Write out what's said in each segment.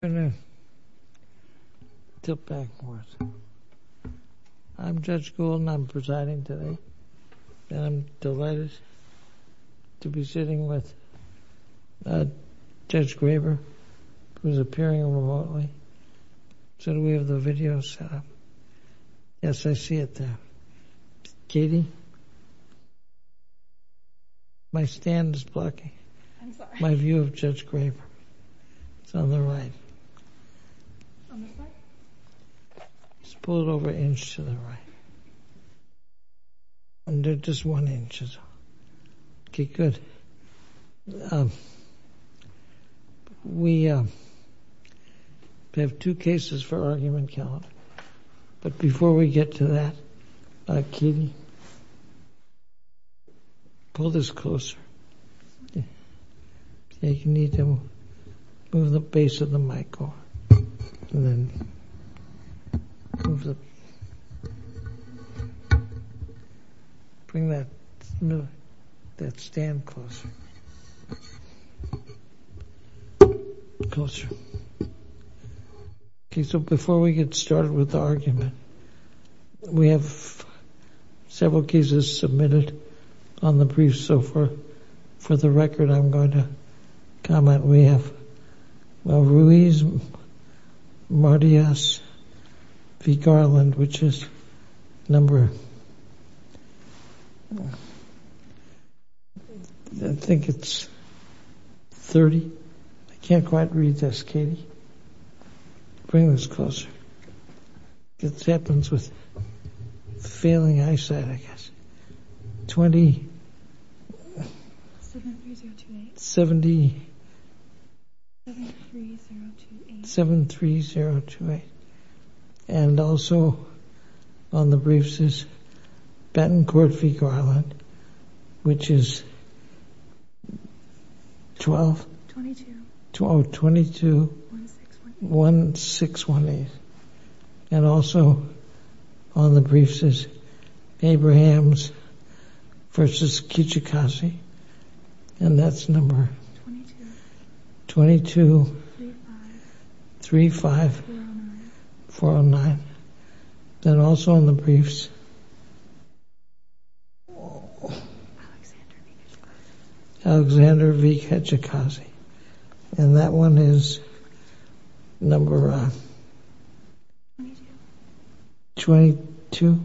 I'm Judge Gould and I'm presiding today, and I'm delighted to be sitting with Judge Graber who is appearing remotely, so we have the video set up. Yes, I see it there. Katie? My stand is blocking my view of Judge Graber. It's on the right. On this side? Just pull it over an inch to the right. Under just one inch or so. Okay, good. We have two cases for argument calendar, but before we get to that, Katie, pull this closer. You need to move the base of the mic over. Bring that stand closer. Closer. Okay, so before we get started with the argument, we have several cases submitted on the briefs, so for the record, I'm going to comment. We have Ruiz-Martínez v. Garland, which is number, I think it's 30. I can't quite read this, Katie. Bring this closer. It happens with failing eyesight, I guess. 20. 70. 73028. And also on the briefs is Benton Court v. Garland, which is 12. 22. 1618. And also on the briefs is Abrahams v. Kitchikazi, and that's number 22. 35. 409. And also on the briefs is Alexander v. Kitchikazi, and that one is number 22.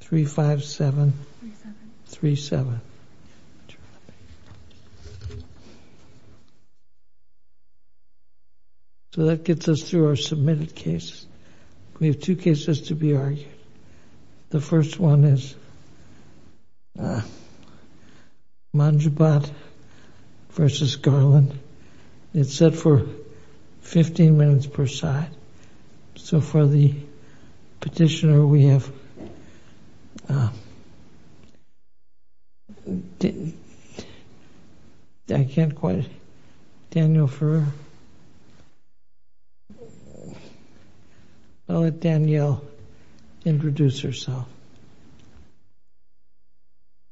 357. 37. So that gets us through our submitted cases. We have two cases to be argued. The first one is Monjabat v. Garland. It's set for 15 minutes per side. So for the petitioner, we have, I can't quite, Danielle, I'll let Danielle introduce herself.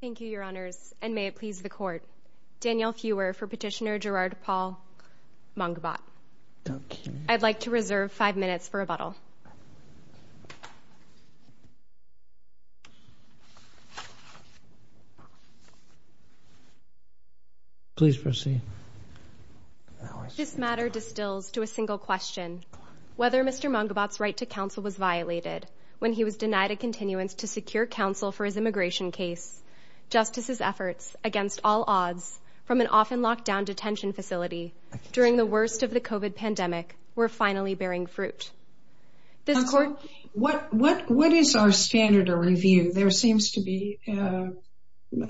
Thank you, Your Honors, and may it please the Court. Danielle Fewer for Petitioner Gerard Paul Monjabat. I'd like to reserve five minutes for rebuttal. Please proceed. This matter distills to a single question. Whether Mr. Monjabat's right to counsel was violated when he was denied a continuance to secure counsel for his immigration case, Justice's efforts against all odds from an often locked down detention facility during the worst of the COVID pandemic were finally bearing fruit. What is our standard of review? There seems to be a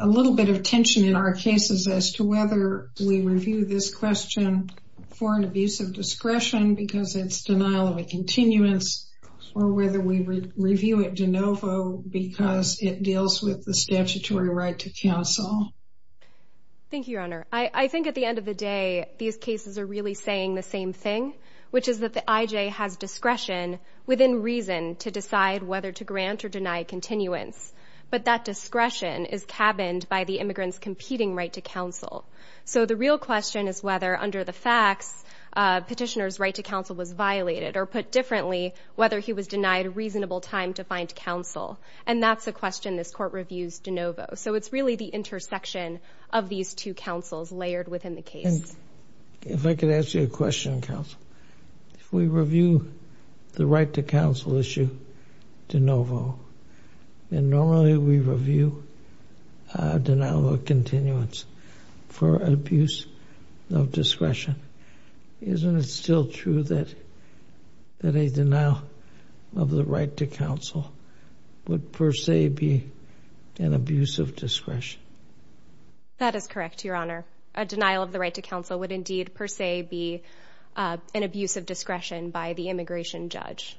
little bit of tension in our cases as to whether we review this question for an abuse of discretion because it's denial of a continuance, or whether we review it de novo because it deals with the statutory right to counsel. Thank you, Your Honor. I think at the end of the day, these cases are really saying the same thing, which is that the IJ has discretion within reason to decide whether to grant or deny continuance. But that discretion is cabined by the immigrant's competing right to counsel. So the real question is whether, under the facts, petitioner's right to counsel was violated, or put differently, whether he was denied a reasonable time to find counsel. And that's a question this Court reviews de novo. So it's really the intersection of these two counsels layered within the case. If I could ask you a question, counsel. If we review the right to counsel issue de novo, and normally we review a denial of continuance for abuse of discretion, isn't it still true that a denial of the right to counsel would per se be an abuse of discretion? That is correct, Your Honor. A denial of the right to counsel would indeed per se be an abuse of discretion by the immigration judge.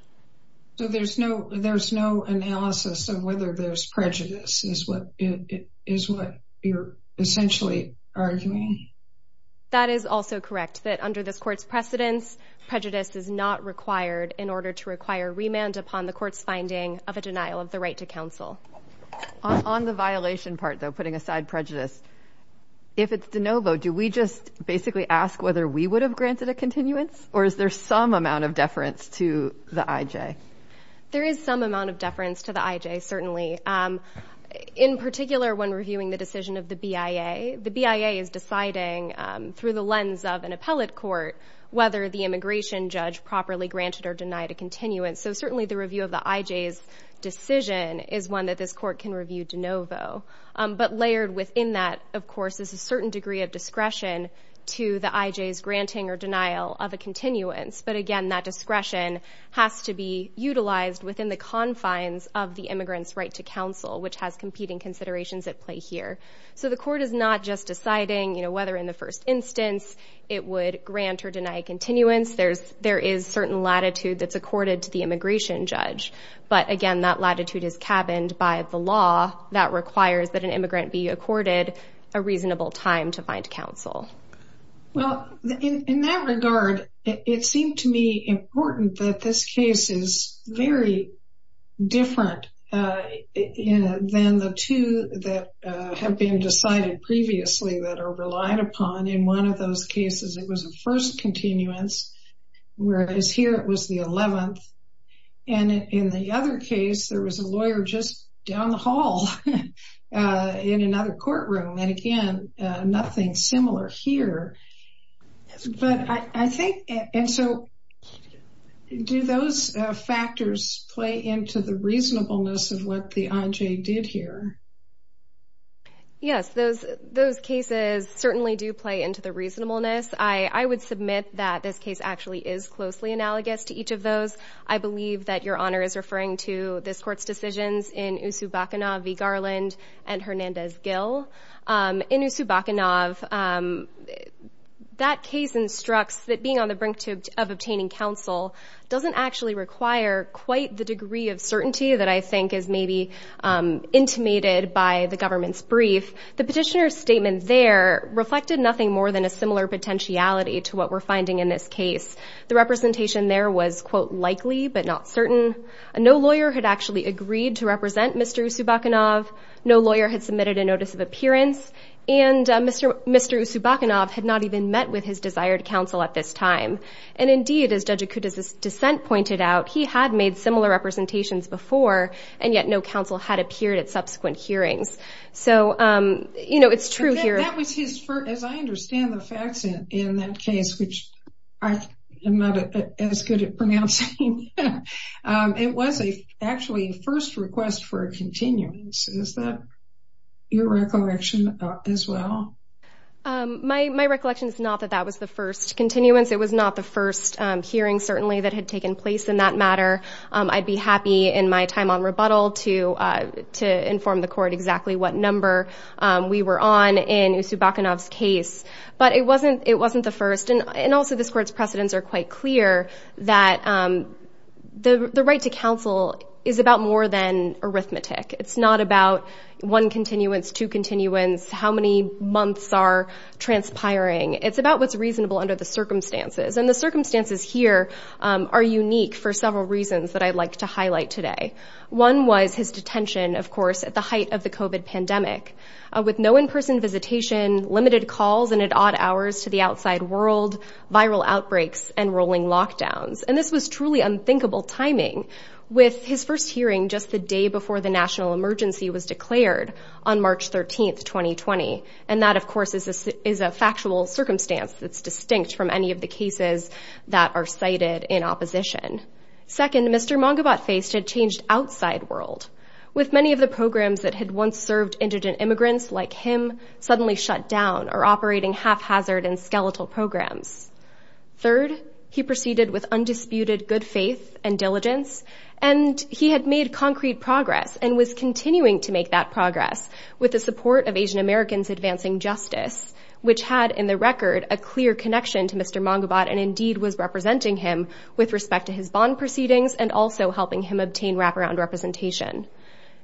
So there's no analysis of whether there's prejudice, is what you're essentially arguing? That is also correct, that under this Court's precedence, prejudice is not required in order to require remand upon the Court's finding of a denial of the right to counsel. On the violation part, though, putting aside prejudice, if it's de novo, do we just basically ask whether we would have granted a continuance, or is there some amount of deference to the IJ? There is some amount of deference to the IJ, certainly. In particular, when reviewing the decision of the BIA, the BIA is deciding, through the lens of an appellate court, whether the immigration judge properly granted or denied a continuance. So certainly the review of the IJ's decision is one that this Court can review de novo. But layered within that, of course, is a certain degree of discretion to the IJ's granting or denial of a continuance. But again, that discretion has to be utilized within the confines of the immigrant's right to counsel, which has competing considerations at play here. So the Court is not just deciding whether in the first instance it would grant or deny a continuance. There is certain latitude that's accorded to the immigration judge. But again, that latitude is cabined by the law that requires that an immigrant be accorded a reasonable time to find counsel. Well, in that regard, it seemed to me important that this case is very different than the two that have been decided previously that are relied upon. In one of those cases, it was a first continuance, whereas here it was the 11th. And in the other case, there was a lawyer just down the hall in another courtroom. And again, nothing similar here. And so do those factors play into the reasonableness of what the IJ did here? Yes, those cases certainly do play into the reasonableness. I would submit that this case actually is closely analogous to each of those. I believe that Your Honor is referring to this Court's decisions in Usubakhanov v. Garland and Hernandez-Gill. In Usubakhanov, that case instructs that being on the brink of obtaining counsel doesn't actually require quite the degree of certainty that I think is maybe intimated by the government's brief. The petitioner's statement there reflected nothing more than a similar potentiality to what we're finding in this case. The representation there was, quote, likely but not certain. No lawyer had actually agreed to represent Mr. Usubakhanov. No lawyer had submitted a notice of appearance. And Mr. Usubakhanov had not even met with his desired counsel at this time. And indeed, as Judge Akuta's dissent pointed out, he had made similar representations before, and yet no counsel had appeared at subsequent hearings. As I understand the facts in that case, which I am not as good at pronouncing, it was actually a first request for a continuance. Is that your recollection as well? My recollection is not that that was the first continuance. It was not the first hearing, certainly, that had taken place in that matter. I'd be happy in my time on rebuttal to inform the Court exactly what number we were on in Usubakhanov's case. But it wasn't the first. And also, this Court's precedents are quite clear that the right to counsel is about more than arithmetic. It's not about one continuance, two continuance, how many months are transpiring. It's about what's reasonable under the circumstances. And the circumstances here are unique for several reasons that I'd like to highlight today. One was his detention, of course, at the height of the COVID pandemic, with no in-person visitation, limited calls and at odd hours to the outside world, viral outbreaks, and rolling lockdowns. And this was truly unthinkable timing, with his first hearing just the day before the national emergency was declared on March 13, 2020. And that, of course, is a factual circumstance that's distinct from any of the cases that are cited in opposition. Second, Mr. Mangubat faced a changed outside world, with many of the programs that had once served indigent immigrants like him suddenly shut down or operating haphazard and skeletal programs. Third, he proceeded with undisputed good faith and diligence, and he had made concrete progress and was continuing to make that progress with the support of Asian Americans advancing justice, which had, in the record, a clear connection to Mr. Mangubat and indeed was representing him with respect to his bond proceedings and also helping him obtain wraparound representation.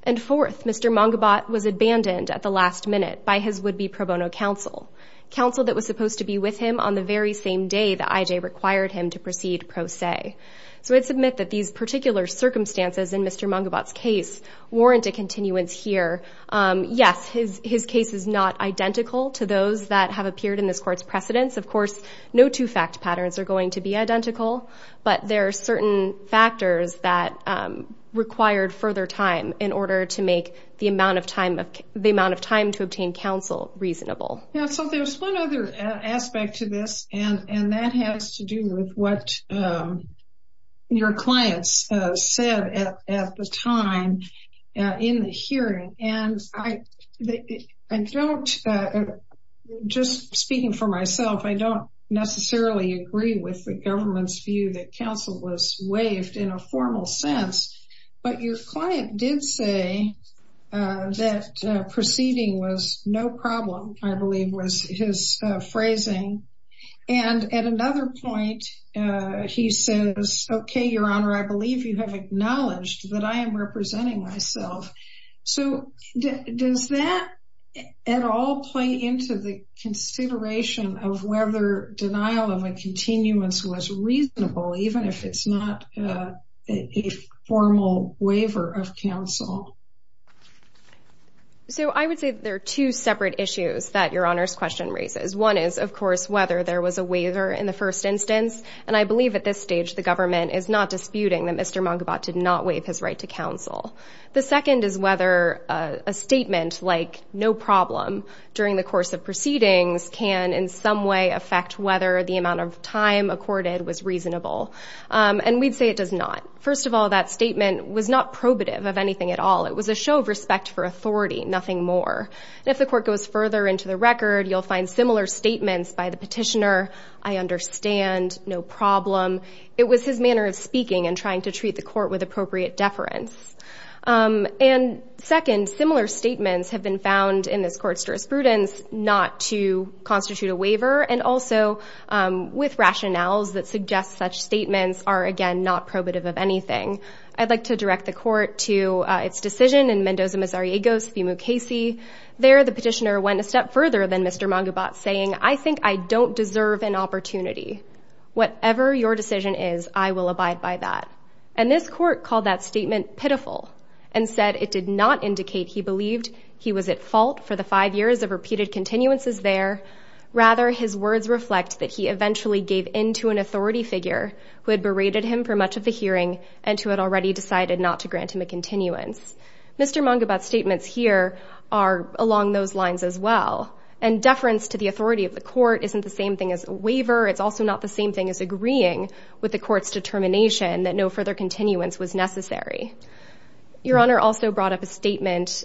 And fourth, Mr. Mangubat was abandoned at the last minute by his would-be pro bono counsel, counsel that was supposed to be with him on the very same day that IJ required him to proceed pro se. So I'd submit that these particular circumstances in Mr. Mangubat's case warrant a continuance here. Yes, his case is not identical to those that have appeared in this court's precedents. Of course, no two fact patterns are going to be identical, but there are certain factors that required further time in order to make the amount of time to obtain counsel reasonable. So there's one other aspect to this, and that has to do with what your clients said at the time in the hearing. And I don't, just speaking for myself, I don't necessarily agree with the government's view that counsel was waived in a formal sense. But your client did say that proceeding was no problem, I believe was his phrasing. And at another point, he says, okay, Your Honor, I believe you have acknowledged that I am representing myself. So does that at all play into the consideration of whether denial of a continuance was reasonable, even if it's not a formal waiver of counsel? So I would say that there are two separate issues that Your Honor's question raises. One is, of course, whether there was a waiver in the first instance. And I believe at this stage the government is not disputing that Mr. Mangubat did not waive his right to counsel. The second is whether a statement like no problem during the course of proceedings can in some way affect whether the amount of time accorded was reasonable. And we'd say it does not. First of all, that statement was not probative of anything at all. It was a show of respect for authority, nothing more. And if the court goes further into the record, you'll find similar statements by the petitioner, I understand, no problem. It was his manner of speaking and trying to treat the court with appropriate deference. And second, similar statements have been found in this court's jurisprudence not to constitute a waiver and also with rationales that suggest such statements are, again, not probative of anything. I'd like to direct the court to its decision in Mendoza-Misariegos v. Mukasey. There, the petitioner went a step further than Mr. Mangubat, saying, I think I don't deserve an opportunity. Whatever your decision is, I will abide by that. And this court called that statement pitiful and said it did not indicate he believed he was at fault for the five years of repeated continuances there. Rather, his words reflect that he eventually gave in to an authority figure who had berated him for much of the hearing and who had already decided not to grant him a continuance. Mr. Mangubat's statements here are along those lines as well. And deference to the authority of the court isn't the same thing as a waiver. It's also not the same thing as agreeing with the court's determination that no further continuance was necessary. Your Honor also brought up a statement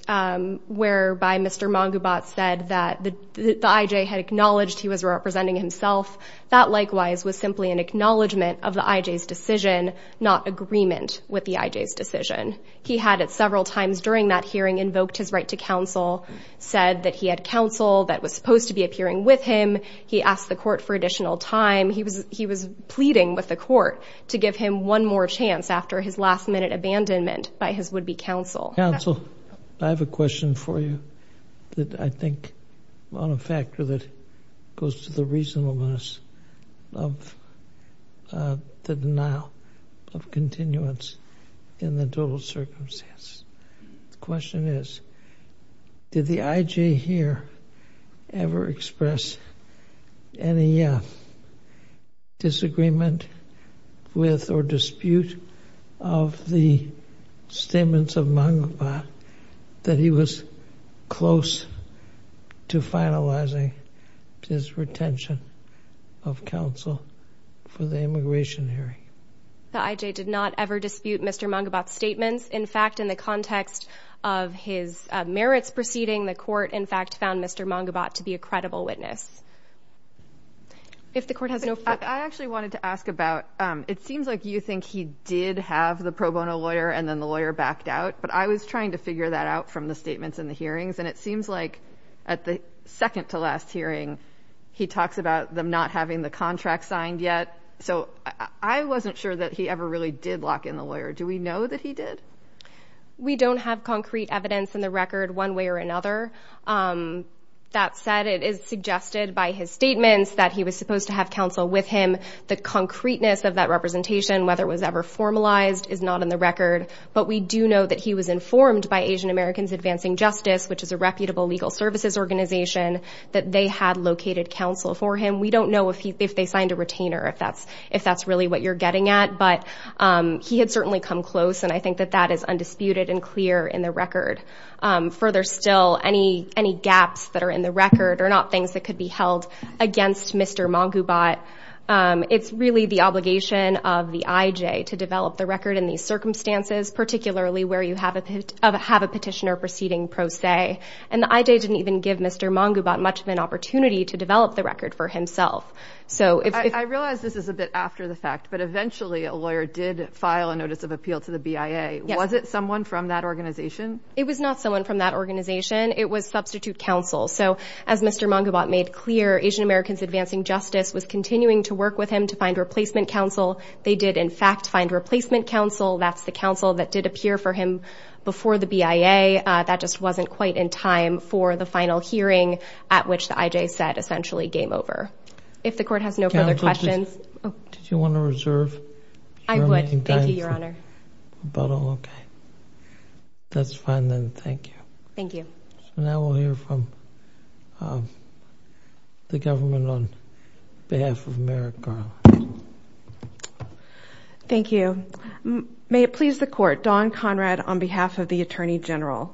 whereby Mr. Mangubat said that the I.J. had acknowledged he was representing himself. That, likewise, was simply an acknowledgment of the I.J.'s decision, not agreement with the I.J.'s decision. He had at several times during that hearing invoked his right to counsel, said that he had counsel that was supposed to be appearing with him. He asked the court for additional time. He was pleading with the court to give him one more chance after his last-minute abandonment by his would-be counsel. Counsel, I have a question for you that I think on a factor that goes to the reasonableness of the denial of continuance in the total circumstance. The question is did the I.J. here ever express any disagreement with or dispute of the statements of Mangubat that he was close to finalizing his retention of counsel for the immigration hearing? The I.J. did not ever dispute Mr. Mangubat's statements. In fact, in the context of his merits proceeding, the court, in fact, found Mr. Mangubat to be a credible witness. If the court has no further questions. I actually wanted to ask about, it seems like you think he did have the pro bono lawyer and then the lawyer backed out. But I was trying to figure that out from the statements in the hearings. And it seems like at the second-to-last hearing, he talks about them not having the contract signed yet. So I wasn't sure that he ever really did lock in the lawyer. Do we know that he did? We don't have concrete evidence in the record one way or another. That said, it is suggested by his statements that he was supposed to have counsel with him. The concreteness of that representation, whether it was ever formalized, is not in the record. But we do know that he was informed by Asian Americans Advancing Justice, which is a reputable legal services organization, that they had located counsel for him. We don't know if they signed a retainer, if that's really what you're getting at. But he had certainly come close, and I think that that is undisputed and clear in the record. Further still, any gaps that are in the record are not things that could be held against Mr. Mangubat. It's really the obligation of the IJ to develop the record in these circumstances, particularly where you have a petitioner proceeding pro se. And the IJ didn't even give Mr. Mangubat much of an opportunity to develop the record for himself. I realize this is a bit after the fact, but eventually a lawyer did file a notice of appeal to the BIA. Was it someone from that organization? It was not someone from that organization. It was substitute counsel. So as Mr. Mangubat made clear, Asian Americans Advancing Justice was continuing to work with him to find replacement counsel. They did, in fact, find replacement counsel. That's the counsel that did appear for him before the BIA. That just wasn't quite in time for the final hearing at which the IJ said essentially game over. If the Court has no further questions. Did you want to reserve your remaining time for rebuttal? I would, thank you, Your Honor. Okay. That's fine then. Thank you. Thank you. So now we'll hear from the government on behalf of Merrick Garland. Thank you. May it please the Court. Dawn Conrad on behalf of the Attorney General.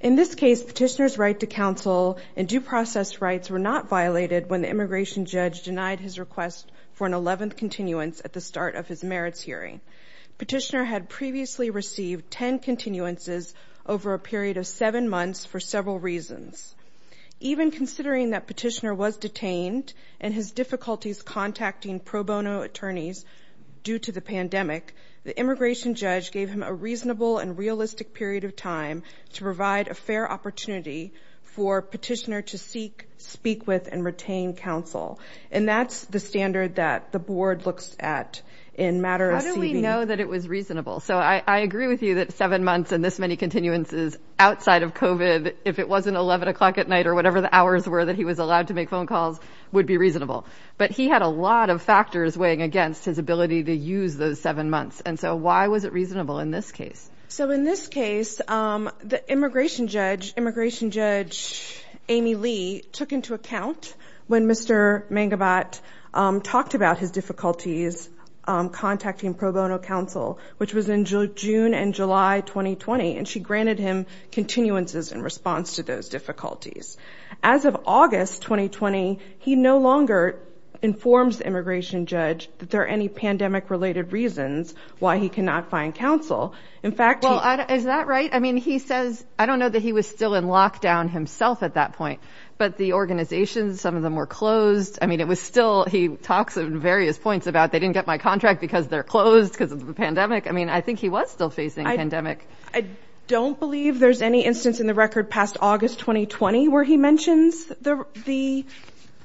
In this case, Petitioner's right to counsel and due process rights were not violated when the immigration judge denied his request for an 11th continuance at the start of his merits hearing. Petitioner had previously received 10 continuances over a period of seven months for several reasons. Even considering that Petitioner was detained and his difficulties contacting pro bono attorneys due to the pandemic, the immigration judge gave him a reasonable and realistic period of time to provide a fair opportunity for Petitioner to seek, speak with, and retain counsel. And that's the standard that the Board looks at in matter of CB. How do we know that it was reasonable? So I agree with you that seven months and this many continuances outside of COVID, if it wasn't 11 o'clock at night or whatever the hours were that he was allowed to make phone calls, would be reasonable. But he had a lot of factors weighing against his ability to use those seven months. And so why was it reasonable in this case? So in this case, the immigration judge, immigration judge Amy Lee, took into account when Mr. Mangabat talked about his difficulties contacting pro bono counsel, which was in June and July 2020. And she granted him continuances in response to those difficulties. As of August 2020, he no longer informs the immigration judge that there are any pandemic related reasons why he cannot find counsel. In fact, is that right? I mean, he says, I don't know that he was still in lockdown himself at that point. But the organization, some of them were closed. I mean, it was still he talks in various points about they didn't get my contract because they're closed because of the pandemic. I mean, I think he was still facing a pandemic. I don't believe there's any instance in the record past August 2020 where he mentions the the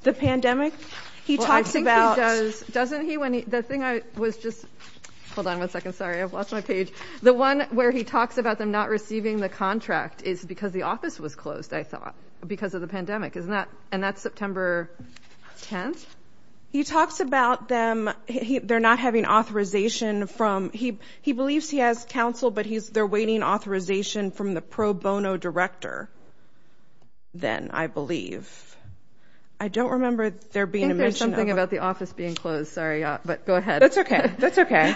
the pandemic. He talks about doesn't he when the thing I was just hold on one second. Sorry, I've lost my page. The one where he talks about them not receiving the contract is because the office was closed. I thought because of the pandemic is not. And that's September 10th. He talks about them. They're not having authorization from he. He believes he has counsel, but he's there waiting authorization from the pro bono director. Then I believe. I don't remember there being something about the office being closed. Sorry. But go ahead. That's OK. That's OK.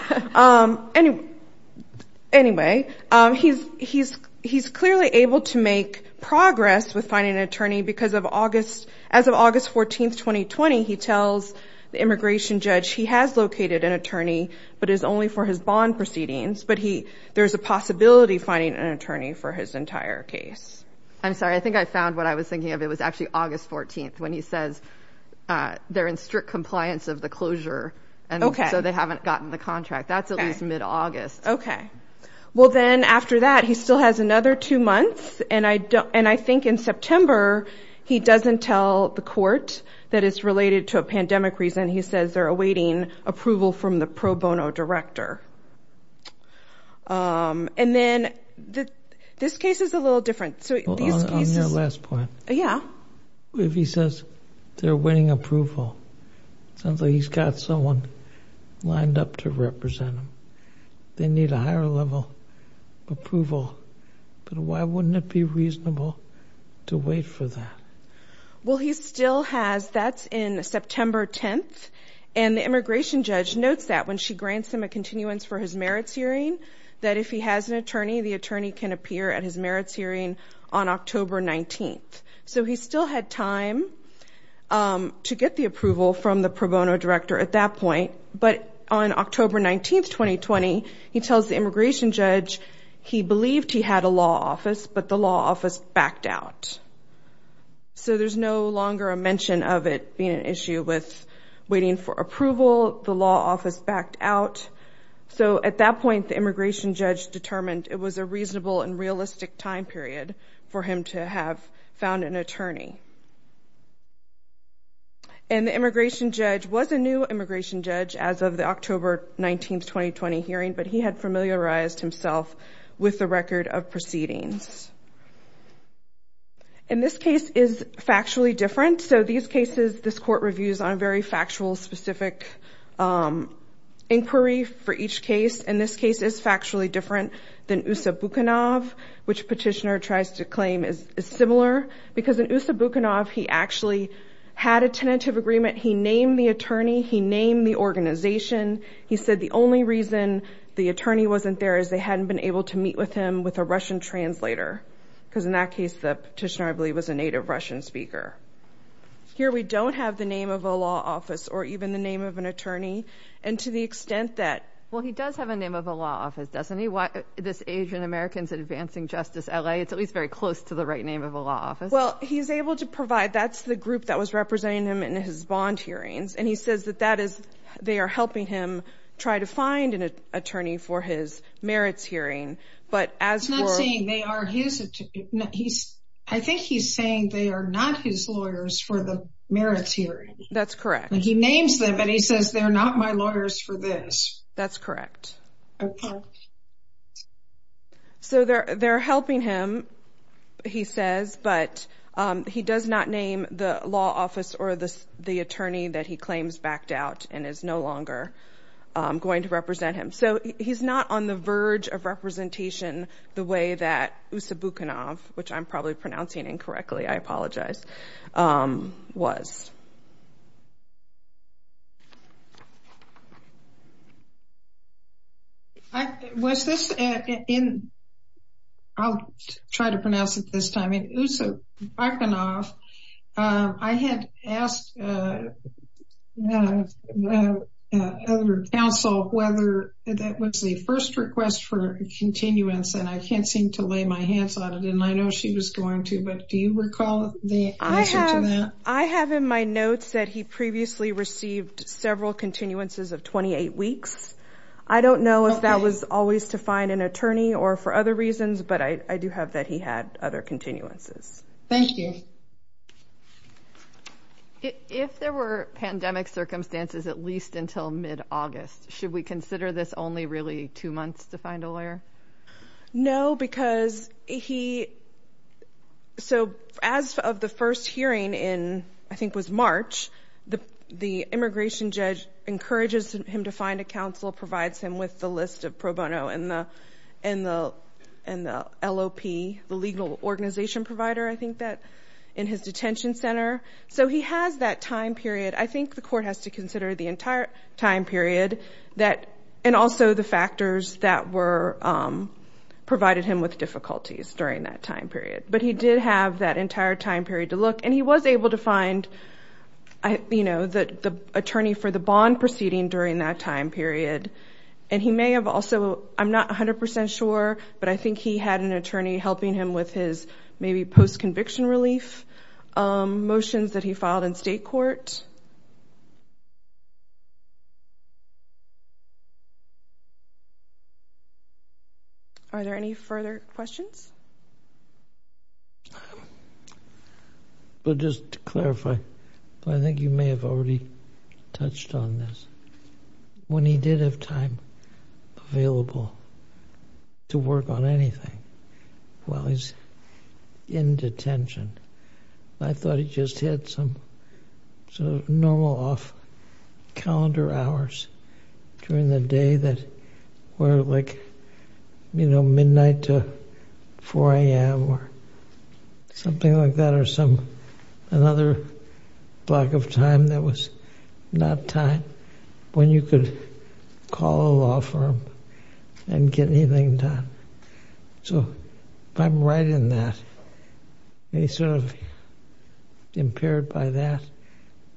Anyway, he's he's he's clearly able to make progress with finding an attorney because of August. As of August 14th, 2020, he tells the immigration judge he has located an attorney, but is only for his bond proceedings. But he there's a possibility finding an attorney for his entire case. I'm sorry. I think I found what I was thinking of. It was actually August 14th when he says they're in strict compliance of the closure. And so they haven't gotten the contract. That's at least mid-August. OK, well, then after that, he still has another two months. And I don't and I think in September he doesn't tell the court that it's related to a pandemic reason. He says they're awaiting approval from the pro bono director. And then this case is a little different. So on your last point. Yeah. If he says they're winning approval, something he's got someone lined up to represent them. They need a higher level approval. But why wouldn't it be reasonable to wait for that? Well, he still has. That's in September 10th. And the immigration judge notes that when she grants him a continuance for his merits hearing, that if he has an attorney, the attorney can appear at his merits hearing on October 19th. So he still had time to get the approval from the pro bono director at that point. But on October 19th, 2020, he tells the immigration judge he believed he had a law office, but the law office backed out. So there's no longer a mention of it being an issue with waiting for approval. The law office backed out. So at that point, the immigration judge determined it was a reasonable and realistic time period for him to have found an attorney. And the immigration judge was a new immigration judge as of the October 19th, 2020 hearing. But he had familiarized himself with the record of proceedings. And this case is factually different. So these cases, this court reviews on a very factual, specific inquiry for each case. And this case is factually different than Usa Bukhanov, which petitioner tries to claim is similar. Because in Usa Bukhanov, he actually had a tentative agreement. He named the attorney. He named the organization. He said the only reason the attorney wasn't there is they hadn't been able to meet with him with a Russian translator. Because in that case, the petitioner, I believe, was a native Russian speaker. Here we don't have the name of a law office or even the name of an attorney. And to the extent that. Well, he does have a name of a law office, doesn't he? This Asian Americans Advancing Justice LA. It's at least very close to the right name of a law office. Well, he's able to provide. That's the group that was representing him in his bond hearings. And he says that that is they are helping him try to find an attorney for his merits hearing. But as for. I think he's saying they are not his lawyers for the merits hearing. That's correct. He names them, but he says they're not my lawyers for this. That's correct. So they're they're helping him, he says. But he does not name the law office or the attorney that he claims backed out and is no longer going to represent him. So he's not on the verge of representation the way that Ussa Bukhanov, which I'm probably pronouncing incorrectly, I apologize, was. Was this in. I'll try to pronounce it this time. Ussa Bukhanov. I had asked other counsel whether that was the first request for continuance. And I can't seem to lay my hands on it. And I know she was going to. But do you recall the answer to that? I have in my notes that he previously received several continuances of 28 weeks. I don't know if that was always to find an attorney or for other reasons, but I do have that he had other continuances. Thank you. If there were pandemic circumstances, at least until mid-August, should we consider this only really two months to find a lawyer? No, because he. So as of the first hearing in, I think, was March, the immigration judge encourages him to find a counsel, provides him with the list of pro bono and the LOP, the legal organization provider, I think that in his detention center. So he has that time period. I think the court has to consider the entire time period and also the factors that provided him with difficulties during that time period. But he did have that entire time period to look. And he was able to find the attorney for the bond proceeding during that time period. And he may have also, I'm not 100 percent sure, but I think he had an attorney helping him with his maybe post-conviction relief motions that he filed in state court. Are there any further questions? But just to clarify, I think you may have already touched on this. When he did have time available to work on anything while he's in detention, I thought he just had some normal off-calendar hours during the day that were like midnight to 4 a.m. or something like that or another block of time that was not time when you could call a law firm and get anything done. So if I'm right in that, he's sort of impaired by that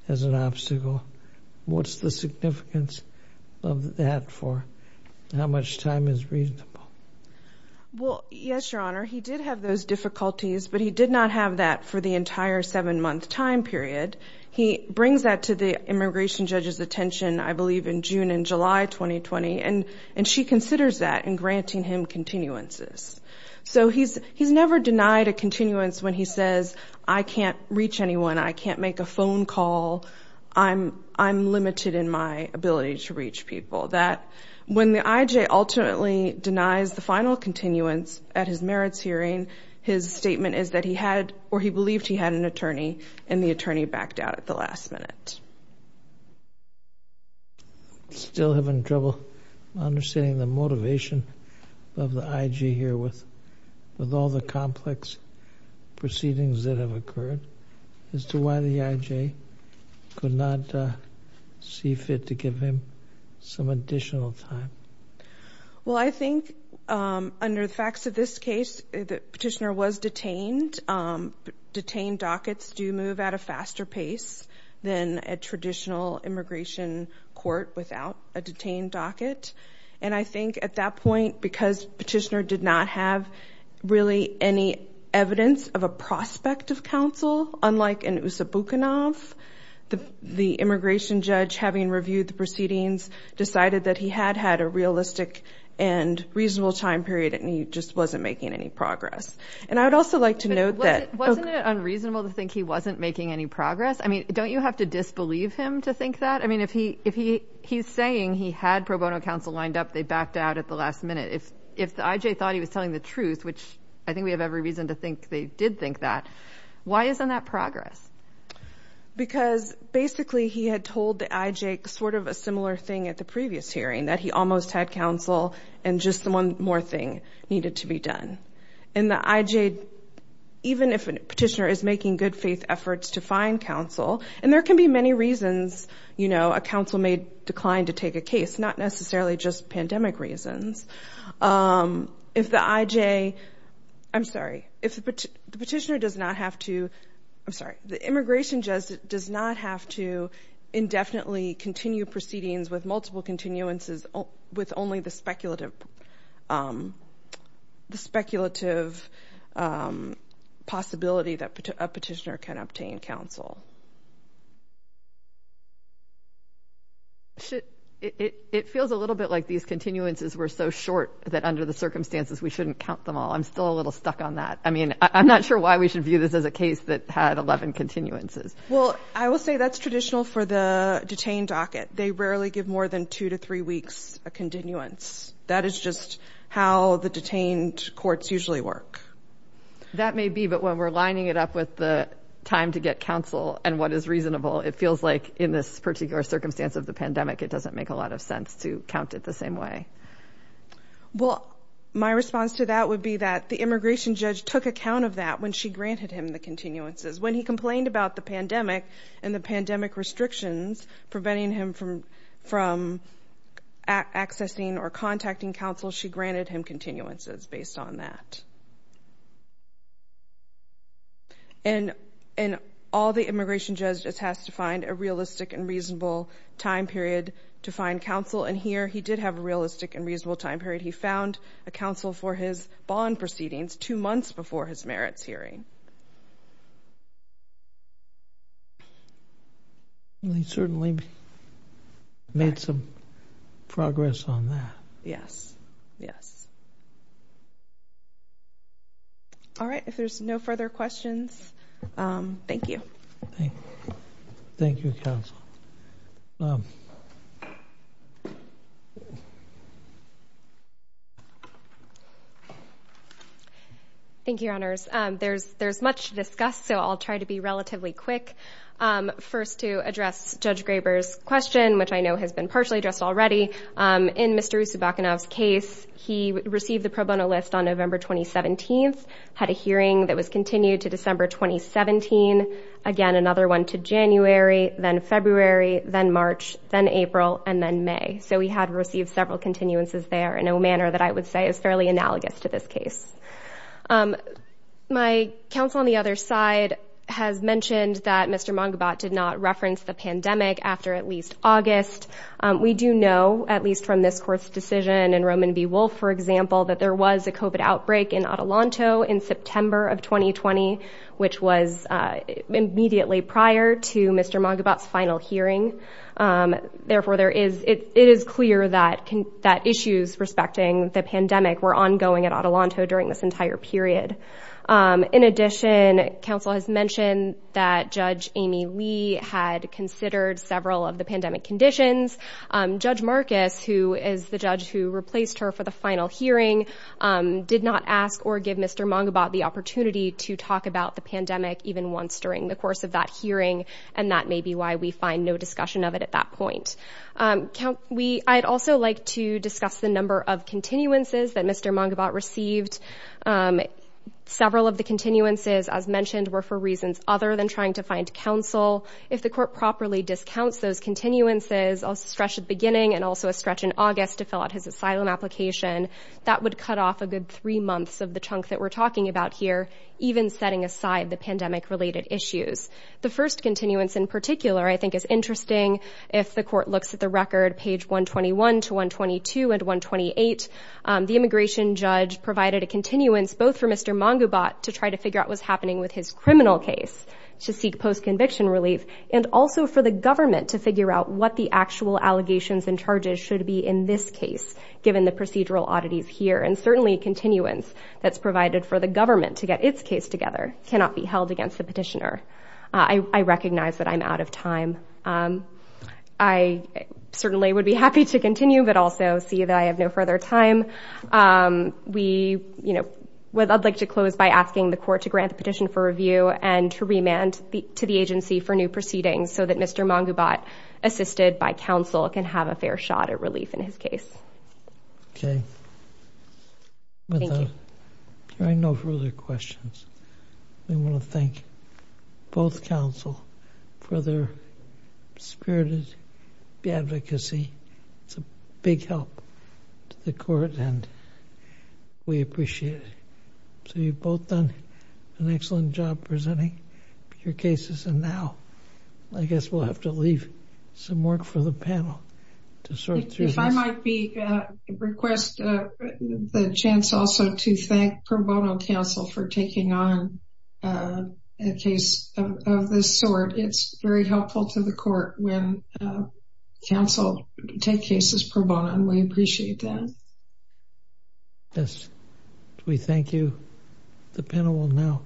as an obstacle. What's the significance of that for how much time is reasonable? Well, yes, Your Honor. He did have those difficulties, but he did not have that for the entire seven-month time period. He brings that to the immigration judge's attention, I believe, in June and July 2020. And she considers that in granting him continuances. So he's never denied a continuance when he says, I can't reach anyone. I can't make a phone call. I'm limited in my ability to reach people. When the IJ ultimately denies the final continuance at his merits hearing, his statement is that he had or he believed he had an attorney, and the attorney backed out at the last minute. Yes. Still having trouble understanding the motivation of the IJ here with all the complex proceedings that have occurred as to why the IJ could not see fit to give him some additional time. Well, I think under the facts of this case, the petitioner was detained. Detained dockets do move at a faster pace than a traditional immigration court without a detained docket. And I think at that point, because petitioner did not have really any evidence of a prospect of counsel, unlike in Usabukhanov, the immigration judge, having reviewed the proceedings, decided that he had had a realistic and reasonable time period, and he just wasn't making any progress. And I would also like to note that... Wasn't it unreasonable to think he wasn't making any progress? I mean, don't you have to disbelieve him to think that? I mean, if he's saying he had pro bono counsel lined up, they backed out at the last minute. If the IJ thought he was telling the truth, which I think we have every reason to think they did think that, why isn't that progress? Because basically he had told the IJ sort of a similar thing at the previous hearing, that he almost had counsel and just one more thing needed to be done. And the IJ, even if a petitioner is making good faith efforts to find counsel, and there can be many reasons, you know, a counsel may decline to take a case, not necessarily just pandemic reasons. If the IJ... I'm sorry. If the petitioner does not have to... I'm sorry. The immigration judge does not have to indefinitely continue proceedings with multiple continuances with only the speculative possibility that a petitioner can obtain counsel. It feels a little bit like these continuances were so short that under the circumstances we shouldn't count them all. I'm still a little stuck on that. I mean, I'm not sure why we should view this as a case that had 11 continuances. Well, I will say that's traditional for the detained docket. They rarely give more than two to three weeks a continuance. That is just how the detained courts usually work. That may be, but when we're lining it up with the time to get counsel and what is reasonable, it feels like in this particular circumstance of the pandemic, it doesn't make a lot of sense to count it the same way. Well, my response to that would be that the immigration judge took account of that when she granted him the continuances. When he complained about the pandemic and the pandemic restrictions preventing him from accessing or contacting counsel, she granted him continuances based on that. And all the immigration judge has to find a realistic and reasonable time period to find counsel, and here he did have a realistic and reasonable time period. He found a counsel for his bond proceedings two months before his merits hearing. And he certainly made some progress on that. Yes. Yes. All right. If there's no further questions, thank you. Thank you, counsel. Thank you. Thank you, Your Honors. There's much to discuss, so I'll try to be relatively quick. First, to address Judge Graber's question, which I know has been partially addressed already. In Mr. Usubakunov's case, he received the pro bono list on November 2017, had a hearing that was continued to December 2017, again, another one to January, then February, then March, then April, and then May. So he had received several continuances there in a manner that I would say is fairly analogous to this case. My counsel on the other side has mentioned that Mr. Mangabat did not reference the pandemic after at least August. We do know, at least from this court's decision and Roman B. Wolfe, for example, that there was a COVID outbreak in Adelanto in September of 2020, which was immediately prior to Mr. Mangabat's final hearing. Therefore, it is clear that issues respecting the pandemic were ongoing at Adelanto during this entire period. In addition, counsel has mentioned that Judge Amy Lee had considered several of the pandemic conditions. Judge Marcus, who is the judge who replaced her for the final hearing, did not ask or give Mr. Mangabat the opportunity to talk about the pandemic even once during the course of that hearing, and that may be why we find no discussion of it at that point. I'd also like to discuss the number of continuances that Mr. Mangabat received. Several of the continuances, as mentioned, were for reasons other than trying to find counsel. If the court properly discounts those continuances, a stretch at the beginning and also a stretch in August to fill out his asylum application, that would cut off a good three months of the chunk that we're talking about here, even setting aside the pandemic-related issues. The first continuance in particular I think is interesting. If the court looks at the record, page 121 to 122 and 128, the immigration judge provided a continuance both for Mr. Mangabat to try to figure out what's happening with his criminal case to seek post-conviction relief and also for the government to figure out what the actual allegations and charges should be in this case, given the procedural oddities here. And certainly continuance that's provided for the government to get its case together cannot be held against the petitioner. I recognize that I'm out of time. I certainly would be happy to continue, but also see that I have no further time. I'd like to close by asking the court to grant the petition for review and to remand to the agency for new proceedings so that Mr. Mangabat, assisted by counsel, can have a fair shot at relief in his case. Okay. Thank you. I have no further questions. I want to thank both counsel for their spirited advocacy. It's a big help to the court, and we appreciate it. So you've both done an excellent job presenting your cases. And now I guess we'll have to leave some work for the panel to sort through this. If I might request the chance also to thank Pro Bono counsel for taking on a case of this sort. It's very helpful to the court when counsel take cases pro bono, and we appreciate that. Yes. We thank you. The panel will now close.